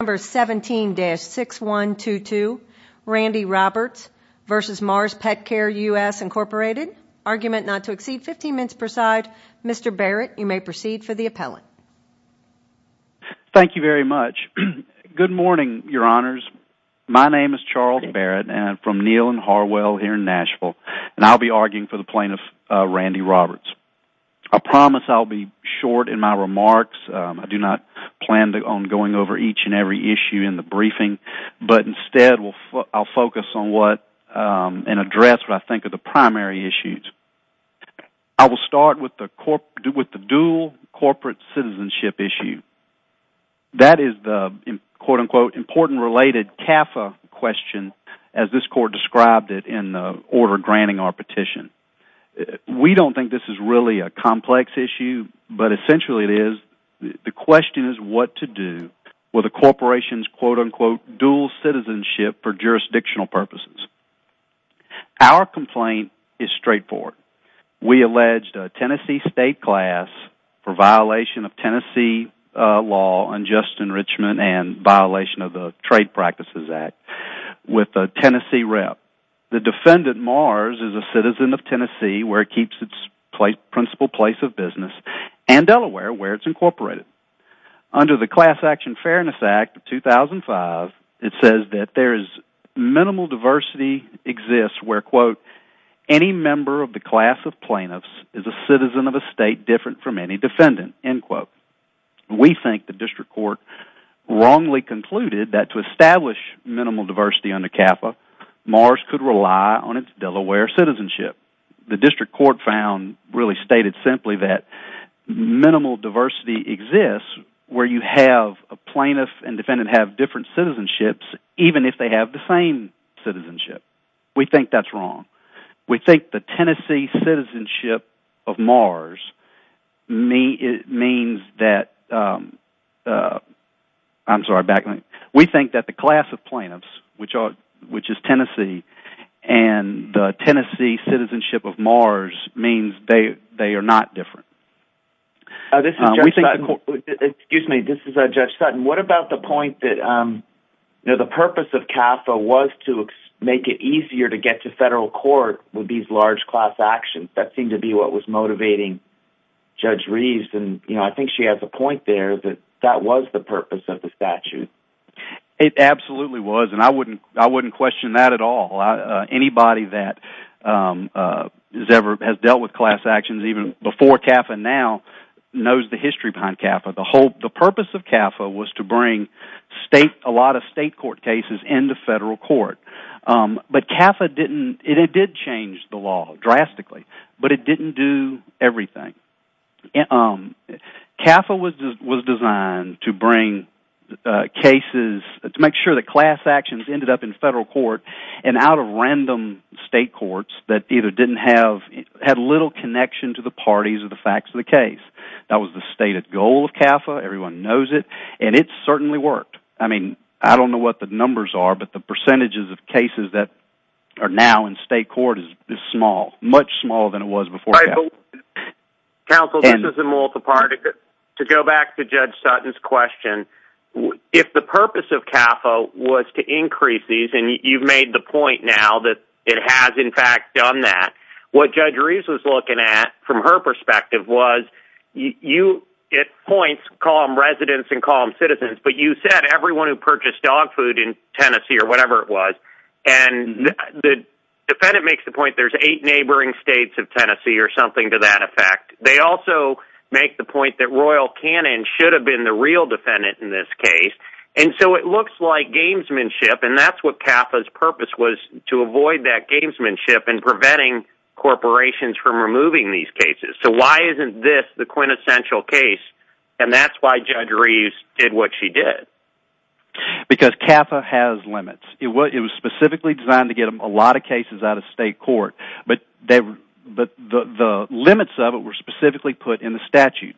Number 17-6122, Randy Roberts v. Mars Petcare US Inc. Argument not to exceed 15 minutes per side. Mr. Barrett, you may proceed for the appellant. Thank you very much. Good morning, your honors. My name is Charles Barrett, and I'm from Neil and Harwell here in Nashville, and I'll be arguing for the plaintiff, Randy Roberts. I promise I'll be short in my remarks. I do not plan on going over each and every issue in the briefing, but instead I'll focus on what, and address what I think are the primary issues. I will start with the dual corporate citizenship issue. That is the, quote unquote, important related CAFA question, as this court described it in the order granting our petition. We don't think this is really a complex issue, but essentially it is, the question is what to do with a corporation's, quote unquote, dual citizenship for jurisdictional purposes. Our complaint is straightforward. We alleged a Tennessee state class for violation of Tennessee law, unjust enrichment, and violation of the Trade Practices Act with a Tennessee rep. The defendant, Mars, is a citizen of Tennessee, where it keeps its principal place of business, and Delaware, where it's incorporated. Under the Class Action Fairness Act of 2005, it says that there is minimal diversity exists where, quote, any member of the class of plaintiffs is a citizen of a state different from any defendant, end quote. We think the district court wrongly concluded that to establish minimal diversity under the law, you have to rely on its Delaware citizenship. The district court found, really stated simply, that minimal diversity exists where you have a plaintiff and defendant have different citizenships, even if they have the same citizenship. We think that's wrong. We think the Tennessee citizenship of Mars means that, I'm sorry, we think that the class of plaintiffs, which is Tennessee, and the Tennessee citizenship of Mars means they are not different. This is Judge Sutton, what about the point that, you know, the purpose of CAFA was to make it easier to get to federal court with these large class actions. That seemed to be what was motivating Judge Reeves, and, you know, I think she has a point there that that was the purpose of the statute. It absolutely was, and I wouldn't question that at all. Anybody that has ever dealt with class actions, even before CAFA now, knows the history behind CAFA. The purpose of CAFA was to bring a lot of state court cases into federal court. But CAFA didn't, it did change the law drastically, but it didn't do everything. CAFA was designed to bring cases, to make sure that class actions ended up in federal court and out of random state courts that either didn't have, had little connection to the parties or the facts of the case. That was the stated goal of CAFA, everyone knows it, and it certainly worked. I mean, I don't know what the numbers are, but the percentages of cases that are now in state court is small, much smaller than it was before CAFA. Counsel, this is a multiparty, but to go back to Judge Sutton's question, if the purpose of CAFA was to increase these, and you've made the point now that it has in fact done that, what Judge Reeves was looking at from her perspective was, you, it points calm residents and calm citizens, but you said everyone who purchased dog food in Tennessee or whatever it was, and the defendant makes the point there's eight neighboring states of Tennessee or something to that effect, they also make the point that Royal Cannon should have been the real defendant in this case, and so it looks like gamesmanship and that's what CAFA's purpose was, to avoid that gamesmanship and preventing corporations from removing these cases. So why isn't this the quintessential case? And that's why Judge Reeves did what she did. Because CAFA has limits. It was specifically designed to get a lot of cases out of state court, but the limits of it were specifically put in the statute.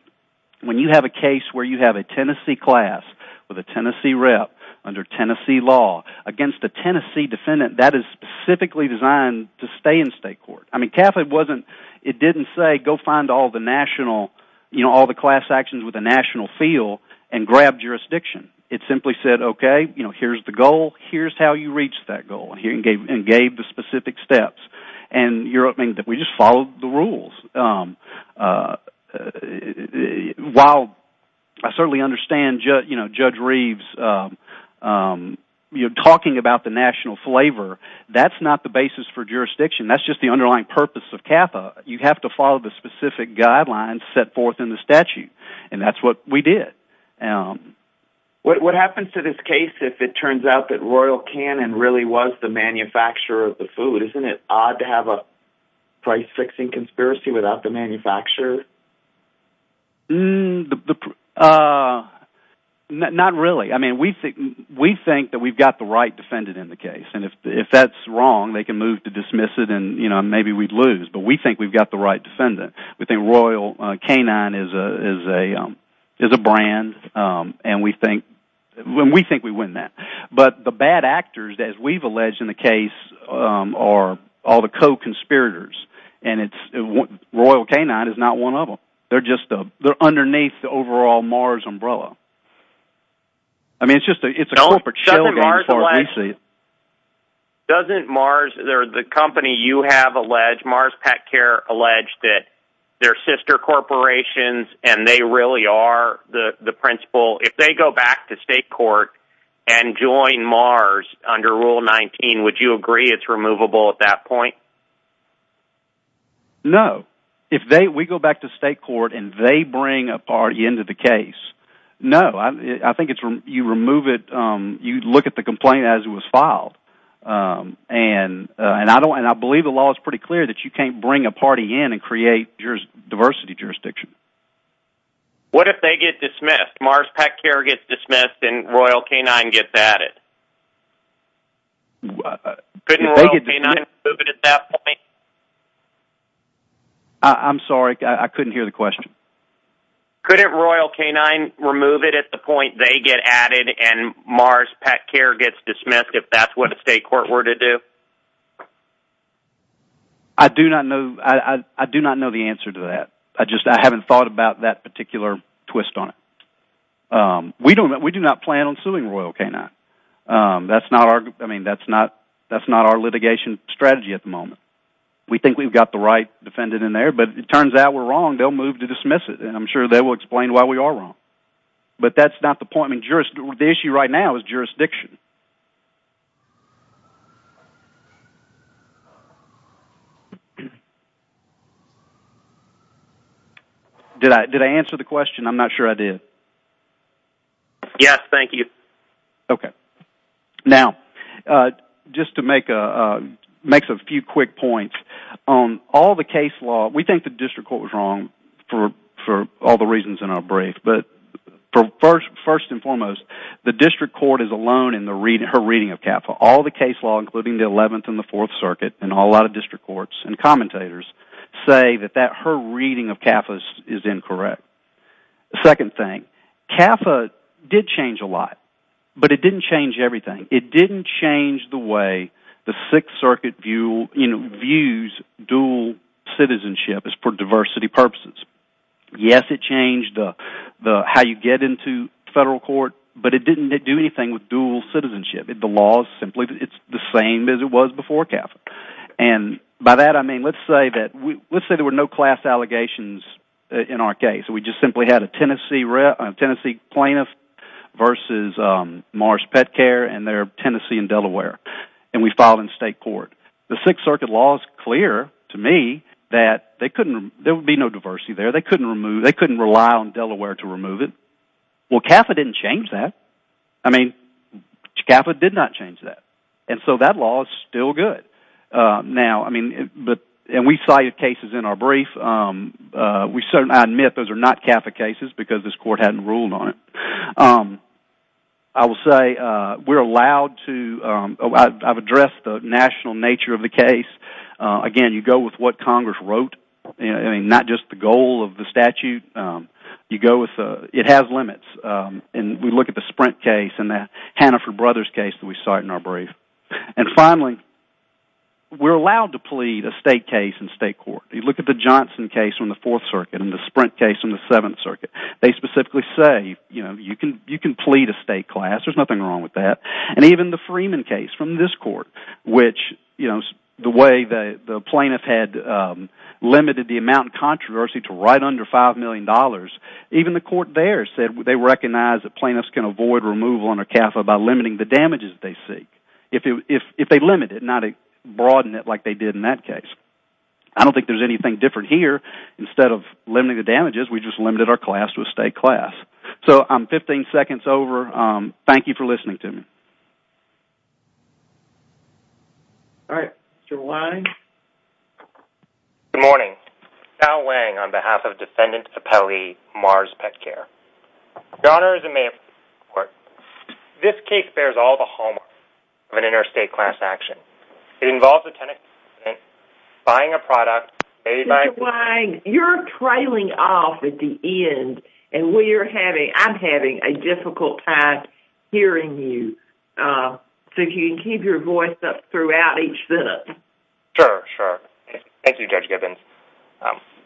When you have a case where you have a Tennessee class with a Tennessee rep under Tennessee law against a Tennessee defendant, that is specifically designed to stay in state court. I mean, CAFA wasn't, it didn't say go find all the national, you know, all the class actions with a national feel and grab jurisdiction. It simply said, okay, you know, here's the goal, here's how you reach that goal, and gave the specific steps. And you're hoping that we just follow the rules. While I certainly understand, you know, Judge Reeves, you're talking about the national flavor, that's not the basis for jurisdiction, that's just the underlying purpose of CAFA. You have to follow the specific guidelines set forth in the statute, and that's what we did. What happens to this case if it turns out that Royal Cannon really was the manufacturer of the food? Isn't it odd to have a price-fixing conspiracy without the manufacturer? Not really. I mean, we think that we've got the right defendant in the case, and if that's wrong, they can move to dismiss it and, you know, maybe we'd lose, but we think we've got the right defendant. We think Royal Canine is a brand, and we think we win that. But the bad actors, as we've alleged in the case, are all the co-conspirators. And Royal Canine is not one of them. They're just underneath the overall Mars umbrella. I mean, it's just a corporate shill game as far as we see it. Doesn't Mars, the company you have alleged, Mars Pet Care, allege that they're sister corporations and they really are the principal? If they go back to state court and join Mars under Rule 19, would you agree it's removable at that point? No. If we go back to state court and they bring a party into the case, no. I think you remove it. You'd look at the complaint as it was filed, and I believe the law is pretty clear that you can't bring a party in and create diversity jurisdiction. What if they get dismissed, Mars Pet Care gets dismissed, and Royal Canine gets added? Couldn't Royal Canine remove it at that point? I'm sorry, I couldn't hear the question. Couldn't Royal Canine remove it at the point they get added and Mars Pet Care gets dismissed if that's what a state court were to do? I do not know the answer to that. I just haven't thought about that particular twist on it. We do not plan on suing Royal Canine. That's not our litigation strategy at the moment. We think we've got the right defendant in there, but it turns out we're wrong. They'll move to dismiss it, and I'm sure they will explain why we are wrong. But that's not the point. The issue right now is jurisdiction. Did I answer the question? I'm not sure I did. Yes, thank you. Okay. Now, just to make a few quick points. All the case law, we think the district court was wrong for all the reasons in our brief, but first and foremost, the district court is alone in her reading of CAFA. All the case law, including the 11th and the 4th Circuit, and a lot of district courts and commentators say that her reading of CAFA is incorrect. The second thing, CAFA did change a lot, but it didn't change everything. It didn't change the way the 6th Circuit views dual citizenship as for diversity purposes. Yes, it changed how you get into federal court, but it didn't do anything with dual citizenship. The law is simply the same as it was before CAFA. By that, I mean let's say there were no class allegations in our case. We just simply had a Tennessee plaintiff versus Marsh Petcare, and they're Tennessee and Delaware, and we filed in state court. The 6th Circuit law is clear to me that there would be no diversity there. They couldn't rely on Delaware to remove it. Well, CAFA didn't change that. I mean, CAFA did not change that, and so that law is still good. We cited cases in our brief. I admit those are not CAFA cases because this court hadn't ruled on it. I will say we're allowed to address the national nature of the case. Again, you go with what Congress wrote, not just the goal of the statute. You go with, it has limits, and we look at the Sprint case and the Hannaford Brothers case that we cite in our brief. And finally, we're allowed to plead a state case in state court. You look at the Johnson case in the 4th Circuit and the Sprint case in the 7th Circuit. They specifically say, you know, you can plead a state class. There's nothing wrong with that. And even the Freeman case from this court, which, you know, the way the plaintiff had limited the amount of controversy to right under $5 million, even the court there said they recognize that plaintiffs can avoid removal under CAFA by limiting the damages they seek. If they limit it, not broaden it like they did in that case. I don't think there's anything different here. Instead of limiting the damages, we just limited our class to a state class. So I'm 15 seconds over. Thank you for listening to me. All right, Mr. Wang. Good morning. Al Wang on behalf of Defendant Appellee Mars Petcare. Your Honor, as a mayor of this court, this case bears all the hallmarks of an interstate class action. It involves a Tennessee resident buying a product made by... Mr. Wang, you're trailing off at the end, and we are having... I'm having a difficult time hearing you. So if you can keep your voice up throughout each sentence. Sure, sure. Thank you, Judge Gibbons.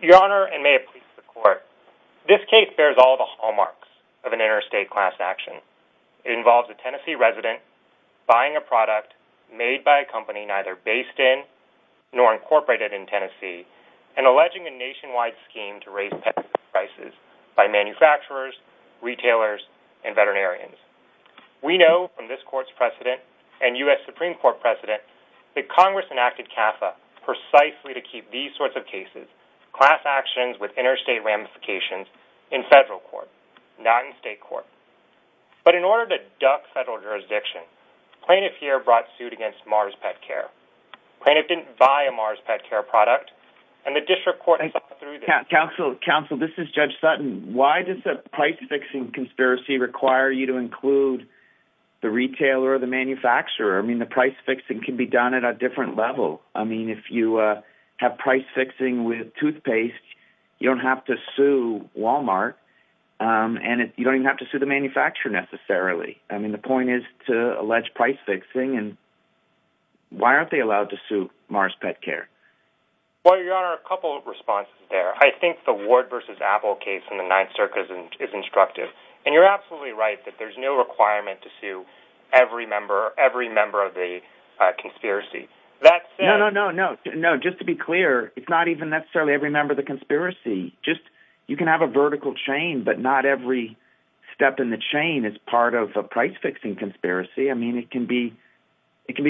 Your Honor, and may it please the court, this case bears all the hallmarks of an interstate class action. It involves a Tennessee resident buying a product made by a company neither based in nor incorporated in Tennessee and alleging a nationwide scheme to raise pet prices by manufacturers, retailers and veterinarians. We know from this court's precedent and U.S. Supreme Court precedent that Congress enacted CAFA precisely to keep these sorts of cases, class actions with interstate ramifications, in federal court, not in state court. But in order to duck federal jurisdiction, plaintiff here brought suit against Mars Pet Care. Plaintiff didn't buy a Mars Pet Care product, and the district court... Counsel, counsel, this is Judge Sutton. Why does the price-fixing conspiracy require you to include the retailer or the manufacturer? I mean, the price-fixing can be done at a different level. I mean, if you have price-fixing with toothpaste, you don't have to sue Walmart, and you don't even have to sue the manufacturer necessarily. I mean, the point is to allege price-fixing, and why aren't they allowed to sue Mars Pet Care? Well, Your Honor, a couple of responses there. I think the Ward v. Apple case in the Ninth Circuit is instructive, and you're absolutely right that there's no requirement to sue every member of the conspiracy. No, no, no, no. No, just to be clear, it's not even necessarily every member of the conspiracy. Just...you can have a vertical chain, but not every step in the chain is part of a price-fixing conspiracy. I mean, it can be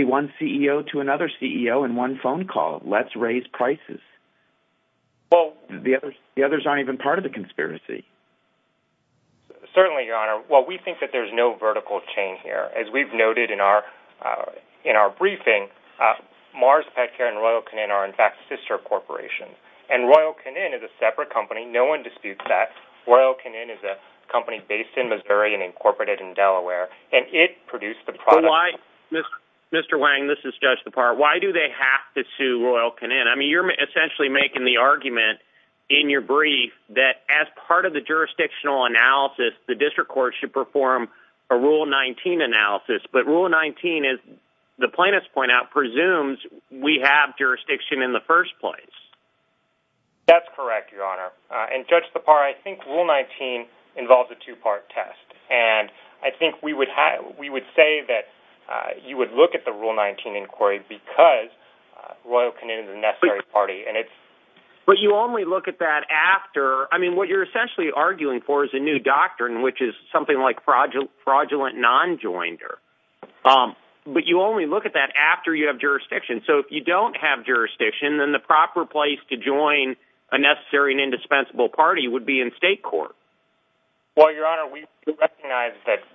one CEO to another CEO in one phone call. Let's raise prices. Well, the others aren't even part of the conspiracy. Certainly, Your Honor. Well, we think that there's no vertical chain here. As we've noted in our briefing, Mars Pet Care and Royal Canin are, in fact, sister corporations, and Royal Canin is a separate company. No one disputes that. Royal Canin is a company based in Missouri and incorporated in Delaware, and it produced the product. Mr. Wang, this is Judge DeParle. Why do they have to sue Royal Canin? I mean, you're essentially making the argument in your brief that as part of the jurisdictional analysis, the district court should perform a Rule 19 analysis, but Rule 19, as the plaintiffs point out, presumes we have jurisdiction in the first place. That's correct, Your Honor, and, Judge DeParle, I think Rule 19 involves a two-part test, and I think we would say that you would look at the Rule 19 inquiry because Royal Canin is a necessary party, and it's... But you only look at that after. I mean, what you're essentially arguing for is a new doctrine, which is something like fraudulent non-joinder, but you only look at that after you have jurisdiction. So if you don't have jurisdiction, then the proper place to join a necessary and indispensable party would be in state court. Well, Your Honor, we recognize that,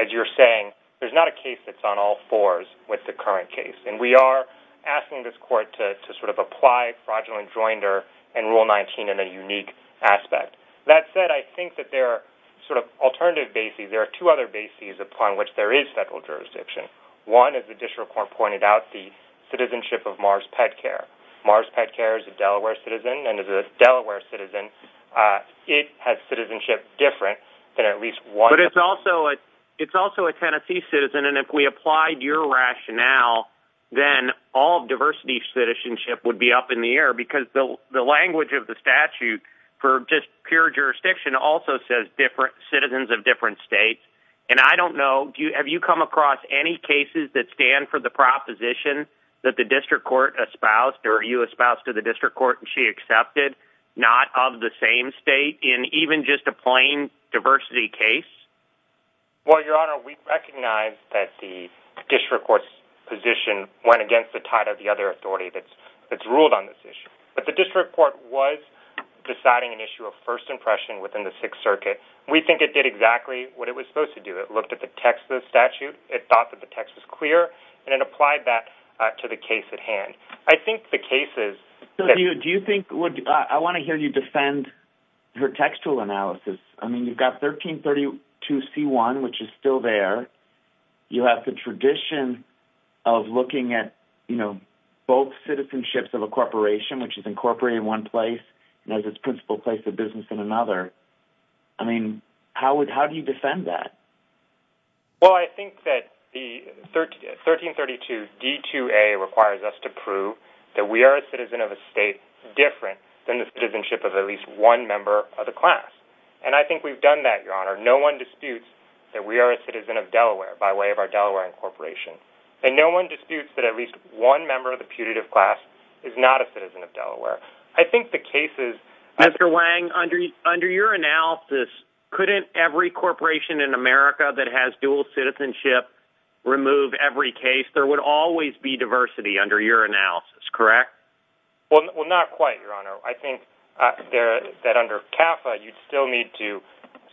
as you're saying, there's not a case that's on all fours with the current case, and we are asking this court to sort of apply fraudulent joinder and Rule 19 in a unique aspect. That said, I think that there are sort of alternative bases. There are two other bases upon which there is federal jurisdiction. One, as the district court pointed out, the citizenship of Mars Pet Care. Mars Pet Care is a Delaware citizen, and as a Delaware citizen, it has citizenship different than at least one... But it's also a Tennessee citizen, and if we applied your rationale, then all diversity citizenship would be up in the air because the language of the statute for just pure jurisdiction also says citizens of different states. And I don't know, have you come across any cases that stand for the proposition that the district court espoused, or you espoused to the district court, and she accepted not of the same state in even just a plain diversity case? Well, Your Honor, we recognize that the district court's position went against the tide of the other authority that's ruled on this issue. But the district court was deciding an issue of first impression within the Sixth Circuit. We think it did exactly what it was supposed to do. It looked at the text of the statute. It thought that the text was clear, and it applied that to the case at hand. I think the cases... Do you think... I want to hear you defend her textual analysis. I mean, you've got 1332c1, which is still there. You have the tradition of looking at, you know, both citizenships of a corporation, which is incorporated in one place, and has its principal place of business in another. I mean, how do you defend that? Well, I think that the 1332d2a requires us to prove that we are a citizen of a state different than the citizenship of at least one member of the class. And I think we've done that, Your Honor. No one disputes that we are a citizen of Delaware by way of our Delaware incorporation. And no one disputes that at least one member of the putative class is not a citizen of Delaware. I think the cases... Mr. Wang, under your analysis, couldn't every corporation in America that has dual citizenship remove every case? There would always be diversity under your analysis, correct? Well, not quite, Your Honor. I think that under CAFA, you'd still need to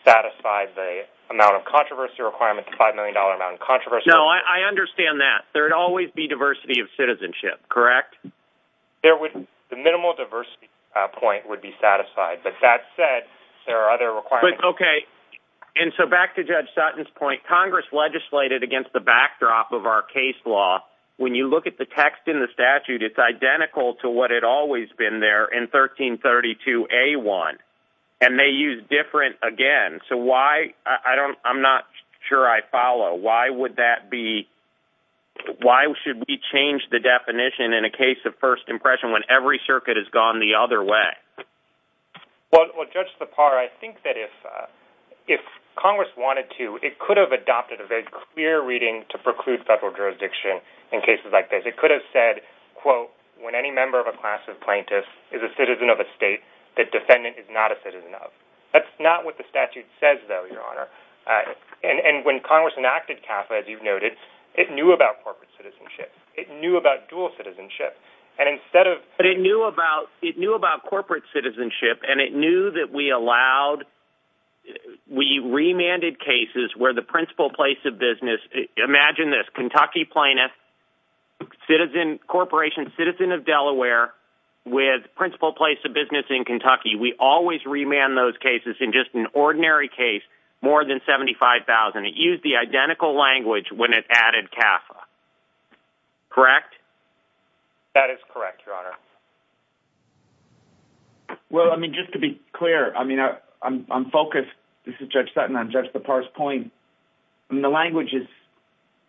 satisfy the amount of controversy requirement, the $5 million amount of controversy. No, I understand that. There'd always be diversity of citizenship, correct? There would... The minimal diversity point would be satisfied. But that said, there are other requirements. Okay. And so back to Judge Sutton's point, Congress legislated against the backdrop of our case law. When you look at the text in the statute, it's identical to what had always been there in 1332a1. And they use different again. So why... I'm not sure I follow. Why would that be... Why should we change the definition in a case of first impression when every circuit has gone the other way? Well, Judge Lepar, I think that if Congress wanted to, it could have adopted a very clear reading to preclude federal jurisdiction in cases like this. It could have said, quote, when any member of a class of plaintiffs is a citizen of a state that defendant is not a citizen of. That's not what the statute says, though, Your Honor. And when Congress enacted CAFA, as you've noted, it knew about corporate citizenship. It knew about dual citizenship. And instead of... But it knew about corporate citizenship, and it knew that we allowed... We remanded cases where the principal place of business... Imagine this. Kentucky plaintiff, citizen corporation, citizen of Delaware with principal place of business in Kentucky. We always remand those cases in just an ordinary case more than 75,000. It used the identical language when it added CAFA, correct? That is correct, Your Honor. Well, I mean, just to be clear, I mean, I'm focused. This is Judge Sutton. I'm Judge Lepar's point. I mean, the language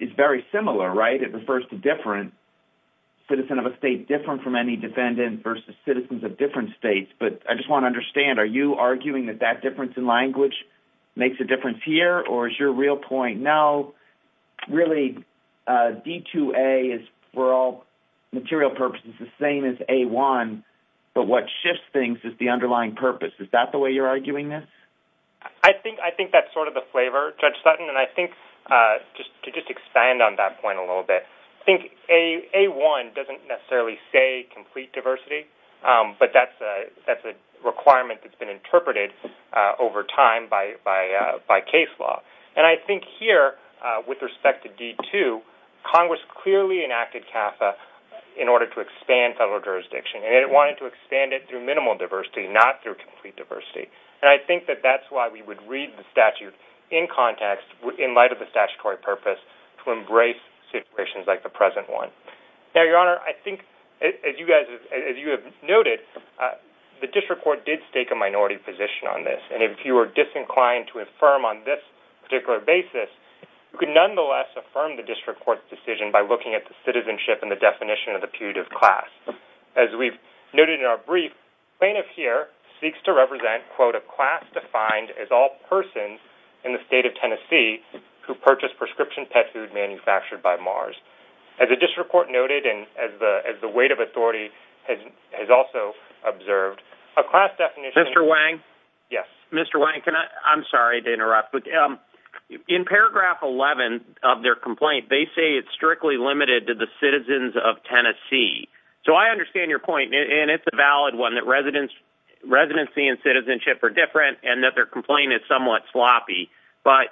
is very similar, right? It refers to different citizen of a state different from any defendant versus citizens of different states. But I just want to understand, are you arguing that that difference in language makes a difference here? Or is your real point, no, really D2A is for all material purposes the same as A1, but what shifts things is the underlying purpose. Is that the way you're arguing this? I think that's sort of the flavor, Judge Sutton. And I think just to just expand on that point a little bit, I think A1 doesn't necessarily say complete diversity, but that's a requirement that's been interpreted over time by case law. And I think here with respect to D2, Congress clearly enacted CAFA in order to expand federal jurisdiction. And it wanted to expand it through minimal diversity, not through complete diversity. And I think that that's why we would read the statute in context in light of the statutory purpose to embrace situations like the present one. Now, Your Honor, I think as you have noted, the district court did stake a minority position on this. And if you were disinclined to affirm on this particular basis, you could nonetheless affirm the district court's decision by looking at the citizenship and the definition of the putative class. As we've noted in our brief, plaintiff here seeks to represent, quote, a class defined as all persons in the state of Tennessee who purchased prescription pet food manufactured by Mars. As the district court noted, and as the weight of authority has also observed, a class definition- Mr. Wayne, can I, I'm sorry to interrupt, but in paragraph 11 of their complaint, they say it's strictly limited to the citizens of Tennessee. So I understand your point, and it's a valid one that residency and citizenship are different and that their complaint is somewhat sloppy, but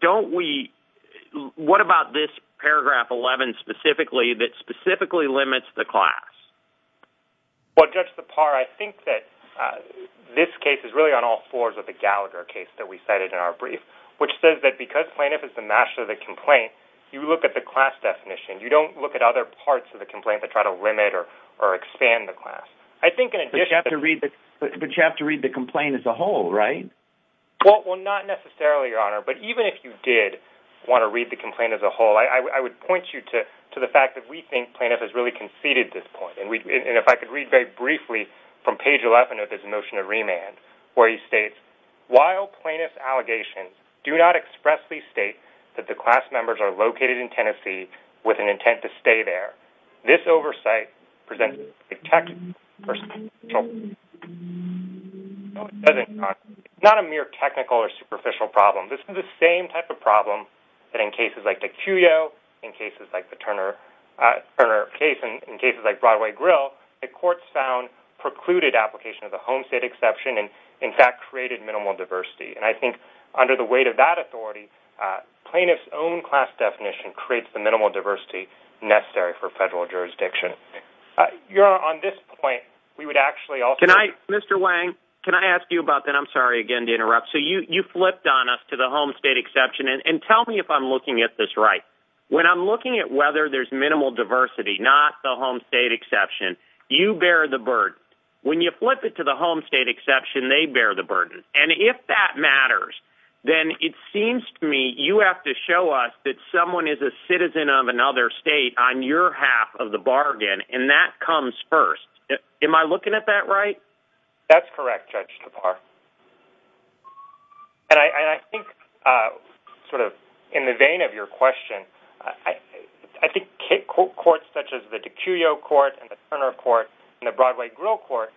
don't we, what about this paragraph 11 specifically that specifically limits the class? Well, Judge Lepar, I think that this case is really on all fours of the Gallagher case that we cited in our brief, which says that because plaintiff is the master of the complaint, you look at the class definition. You don't look at other parts of the complaint to try to limit or expand the class. I think in addition- But you have to read the complaint as a whole, right? Well, not necessarily, Your Honor, but even if you did want to read the complaint as a whole, I would point you to the fact that we think plaintiff has really conceded this point. And if I could read very briefly from page 11 of his motion of remand, where he states, while plaintiff's allegations do not expressly state that the class members are located in Tennessee with an intent to stay there, this oversight presents a technical or superficial problem. It's not a mere technical or superficial problem. This is the same type of problem that in cases like the Cuyo, in cases like the Turner case, and in cases like Broadway Grill, the courts found precluded application of the home state exception and in fact created minimal diversity. And I think under the weight of that authority, plaintiff's own class definition creates the minimal diversity necessary for federal jurisdiction. Your Honor, on this point, we would actually also- Mr. Wang, can I ask you about that? I'm sorry, again, to interrupt. So you flipped on us to the home state exception. And tell me if I'm looking at this right. When I'm looking at whether there's minimal diversity, not the home state exception, you bear the burden. When you flip it to the home state exception, they bear the burden. And if that matters, then it seems to me you have to show us that someone is a citizen of another state on your half of the bargain. And that comes first. Am I looking at that right? That's correct, Judge Tapar. And I think sort of in the vein of your question, I think courts such as the DiCuio Court and the Turner Court and the Broadway Grill Court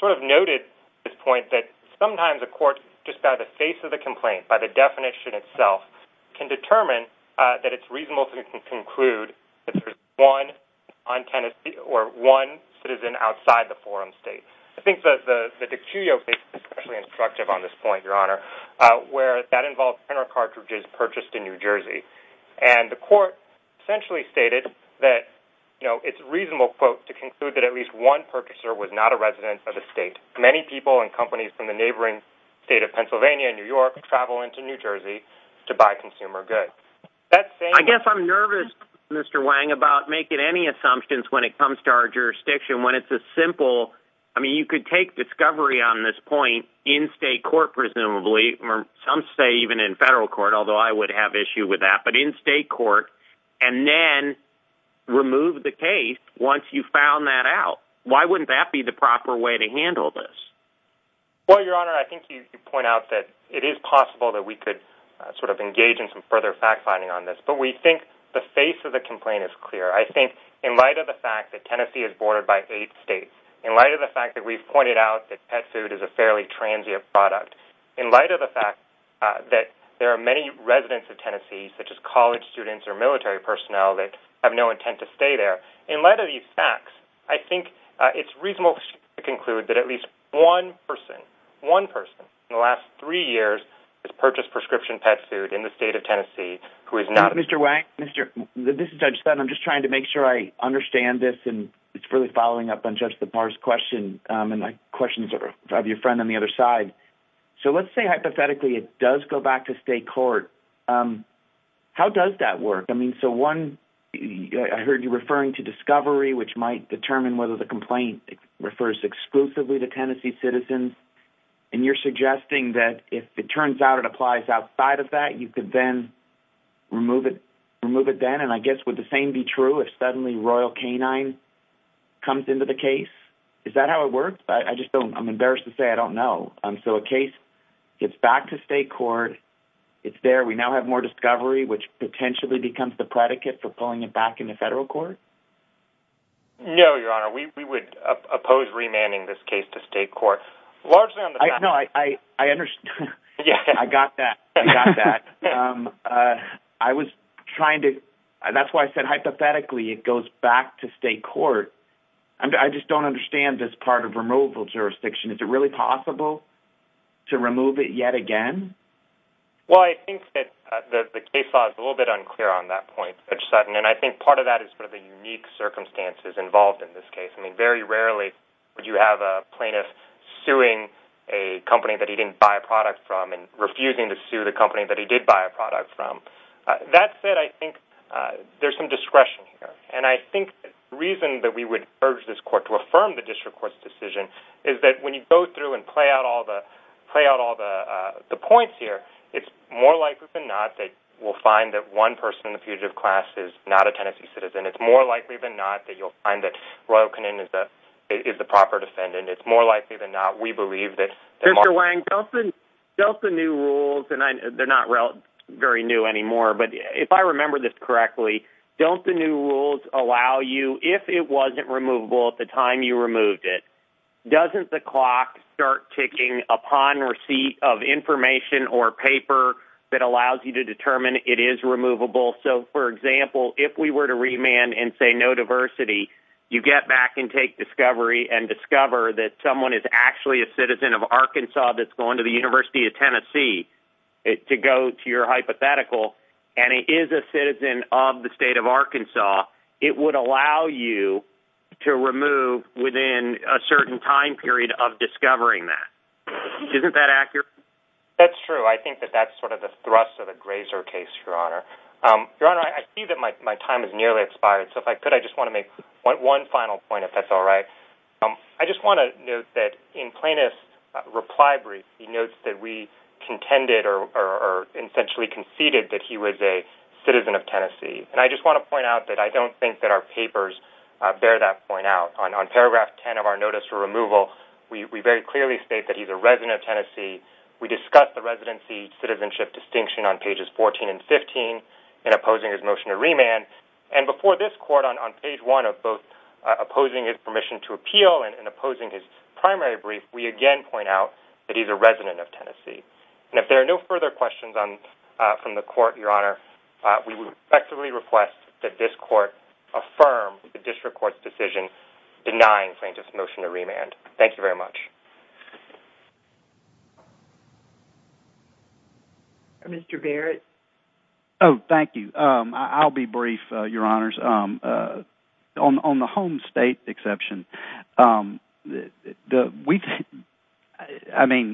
sort of noted this point that sometimes a court, just by the face of the complaint, by the definition itself, can determine that it's reasonable to conclude that there's one non-tenant or one citizen outside the forum state. I think that the DiCuio case is especially instructive on this point, Your Honor, where that involves Turner cartridges purchased in New Jersey. And the court essentially stated that, you know, it's a reasonable quote to conclude that at least one purchaser was not a resident of the state. Many people and companies from the neighboring state of Pennsylvania, New York, travel into New Jersey to buy consumer goods. That same- I guess I'm nervous, Mr. Wang, about making any assumptions when it comes to our jurisdiction, when it's as simple, I mean, you could take discovery on this point in state court, presumably, or some say even in federal court, although I would have issue with that, but in state court, and then remove the case once you've found that out. Why wouldn't that be the proper way to handle this? Well, Your Honor, I think you point out that it is possible that we could sort of engage in some further fact-finding on this, but we think the face of the complaint is clear. I think in light of the fact that Tennessee is bordered by eight states, in light of the fact that we've pointed out that pet food is a fairly transient product, in light of the fact that there are many residents of Tennessee, such as college students or military personnel that have no intent to stay there, in light of these facts, I think it's reasonable to conclude that at least one person, one person in the last three years has purchased prescription pet food in the state of Tennessee, who is not- Mr. Wang, this is Judge Sutton. I'm just trying to make sure I understand this, and it's really following up on Judge Lepar's question, and my question is for your friend on the other side. So let's say hypothetically it does go back to state court. How does that work? I mean, so one, I heard you referring to discovery, which might determine whether the complaint refers exclusively to Tennessee citizens, and you're suggesting that if it turns out it applies outside of that, you could then remove it, remove it then, and I guess would the same be true if suddenly royal canine comes into the case? Is that how it works? I just don't, I'm embarrassed to say I don't know. So a case gets back to state court, it's there, we now have more discovery, which potentially becomes the predicate for pulling it back into federal court? No, Your Honor, we would oppose remanding this case to state court. Largely on the fact- No, I understand, I got that, I got that. I was trying to, that's why I said hypothetically it goes back to state court. I just don't understand this part of removal jurisdiction. Is it really possible to remove it yet again? Well, I think that the case law is a little bit unclear on that point, Judge Sutton, and I think part of that is sort of the unique circumstances involved in this case. I mean, very rarely would you have a plaintiff suing a company that he didn't buy a product from and refusing to sue the company that he did buy a product from. That said, I think there's some discretion here, and I think the reason that we would urge this court to affirm the district court's decision is that when you go through and play out all the, play out all the points here, it's more likely than not that we'll find that one person in the fugitive class is not a Tennessee citizen. It's more likely than not that you'll find that Royal Connin is the proper defendant. It's more likely than not, we believe that- Mr. Lang, Delta New Rules, and they're not very new anymore, but if I remember this correctly, Delta New Rules allow you, if it wasn't removable at the time you removed it, doesn't the clock start ticking upon receipt of information or paper that allows you to determine it is removable? So for example, if we were to remand and say no diversity, you get back and take discovery and discover that someone is actually a citizen of Arkansas that's going to the University of Tennessee to go to your hypothetical, and it is a citizen of the state of Arkansas, it would allow you to remove within a certain time period of discovering that. Isn't that accurate? That's true. I think that that's sort of the thrust of the Grazer case, Your Honor. Your Honor, I see that my time is nearly expired. So if I could, I just want to make one final point, if that's all right. I just want to note that in plaintiff's reply brief, he notes that we contended or essentially conceded that he was a citizen of Tennessee. And I just want to point out that I don't think that our papers bear that point out. On paragraph 10 of our notice for removal, we very clearly state that he's a resident of Tennessee. We discuss the residency citizenship distinction on pages 14 and 15 in opposing his motion to remand. And before this court on page one of both opposing his permission to appeal and opposing his primary brief, we again point out that he's a resident of Tennessee. And if there are no further questions from the court, Your Honor, we would respectfully request that this court affirm the district court's decision denying plaintiff's motion to remand. Thank you very much. Mr. Barrett. Oh, thank you. I'll be brief, Your Honors. On the home state exception, I mean,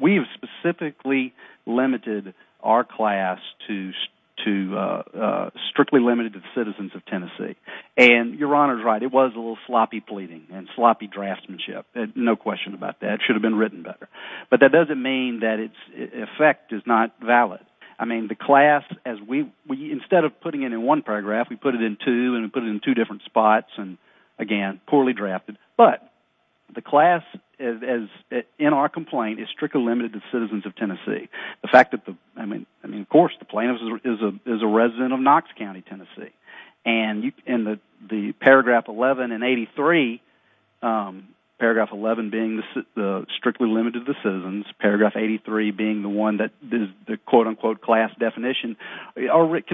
we have specifically limited our class to strictly limited to the citizens of Tennessee. And Your Honor's right, it was a little sloppy pleading and sloppy draftsmanship, no question about that. It should have been written better. But that doesn't mean that its effect is not valid. I mean, the class, instead of putting it in one paragraph, we put it in two and put it in two different spots and again, poorly drafted. But the class in our complaint is strictly limited to the citizens of Tennessee. The fact that the, I mean, of course, the plaintiff is a resident of Knox County, Tennessee. And in the paragraph 11 and 83, paragraph 11 being the strictly limited to the citizens, paragraph 83 being the one that is the quote unquote class definition, it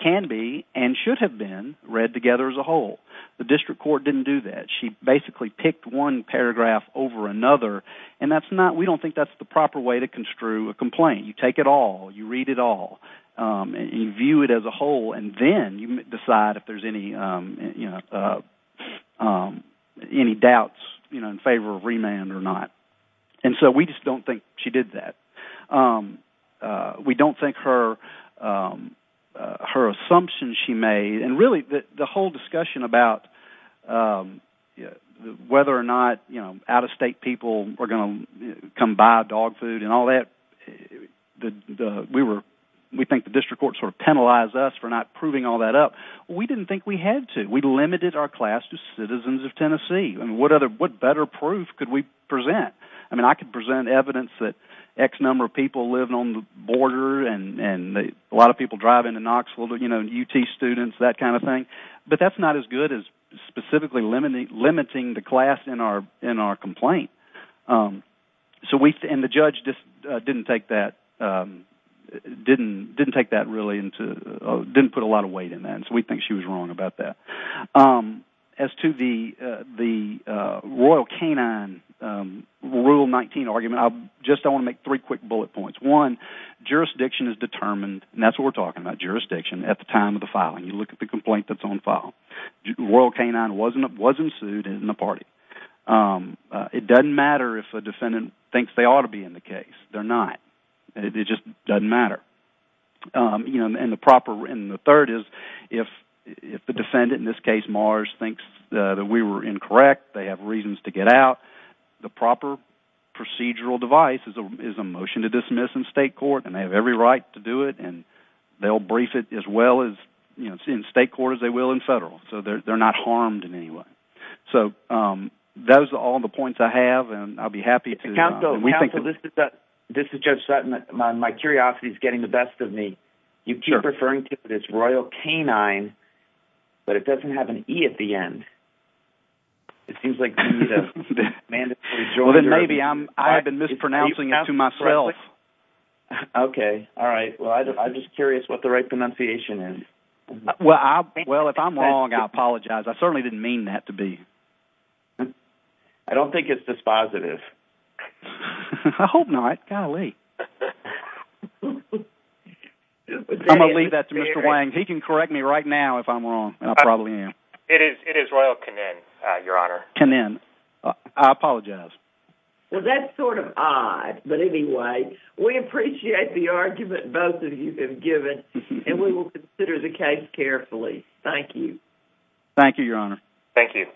can be and should have been read together as a whole. The district court didn't do that. She basically picked one paragraph over another. And that's not, we don't think that's the proper way to construe a complaint. You take it all, you read it all, and you view it as a whole, and then you decide if there's any doubts in favor of remand or not. And so we just don't think she did that. We don't think her assumption she made, and really, the whole discussion about whether or not out-of-state people were gonna come buy dog food and all that, we think the district court sort of penalized us for not proving all that up. We didn't think we had to. We limited our class to citizens of Tennessee. And what better proof could we present? I mean, I could present evidence that X number of people living on the border, and a lot of people driving to Knoxville, you know, UT students, that kind of thing. But that's not as good as specifically limiting the class in our complaint. So we, and the judge just didn't take that, didn't take that really into, didn't put a lot of weight in that, and so we think she was wrong about that. As to the Royal Canine Rule 19 argument, just I wanna make three quick bullet points. One, jurisdiction is determined, and that's what we're talking about, jurisdiction at the time of the filing. You look at the complaint that's on file. Royal Canine wasn't sued in the party. It doesn't matter if a defendant thinks they ought to be in the case. They're not. It just doesn't matter. You know, and the proper, and the third is, if the defendant, in this case Marge, thinks that we were incorrect, they have reasons to get out, the proper procedural device is a motion to dismiss in state court, and they have every right to do it, and they'll brief it as well as, you know, in state court as they will in federal, so they're not harmed in any way. So those are all the points I have, and I'll be happy to, and we think that. This is Judge Sutton. My curiosity's getting the best of me. You keep referring to it as Royal Canine, but it doesn't have an E at the end. It seems like you need to mandatorily join. Well, then maybe I've been mispronouncing it to myself. Okay, all right. Well, I'm just curious what the right pronunciation is. Well, if I'm wrong, I apologize. I certainly didn't mean that to be. I don't think it's dispositive. I hope not, golly. I'm gonna leave that to Mr. Wang. He can correct me right now if I'm wrong, and I probably am. It is Royal Canine, Your Honor. Canine, I apologize. Well, that's sort of odd, but anyway, we appreciate the argument both of you have given, and we will consider the case carefully. Thank you. Thank you, Your Honor. Thank you.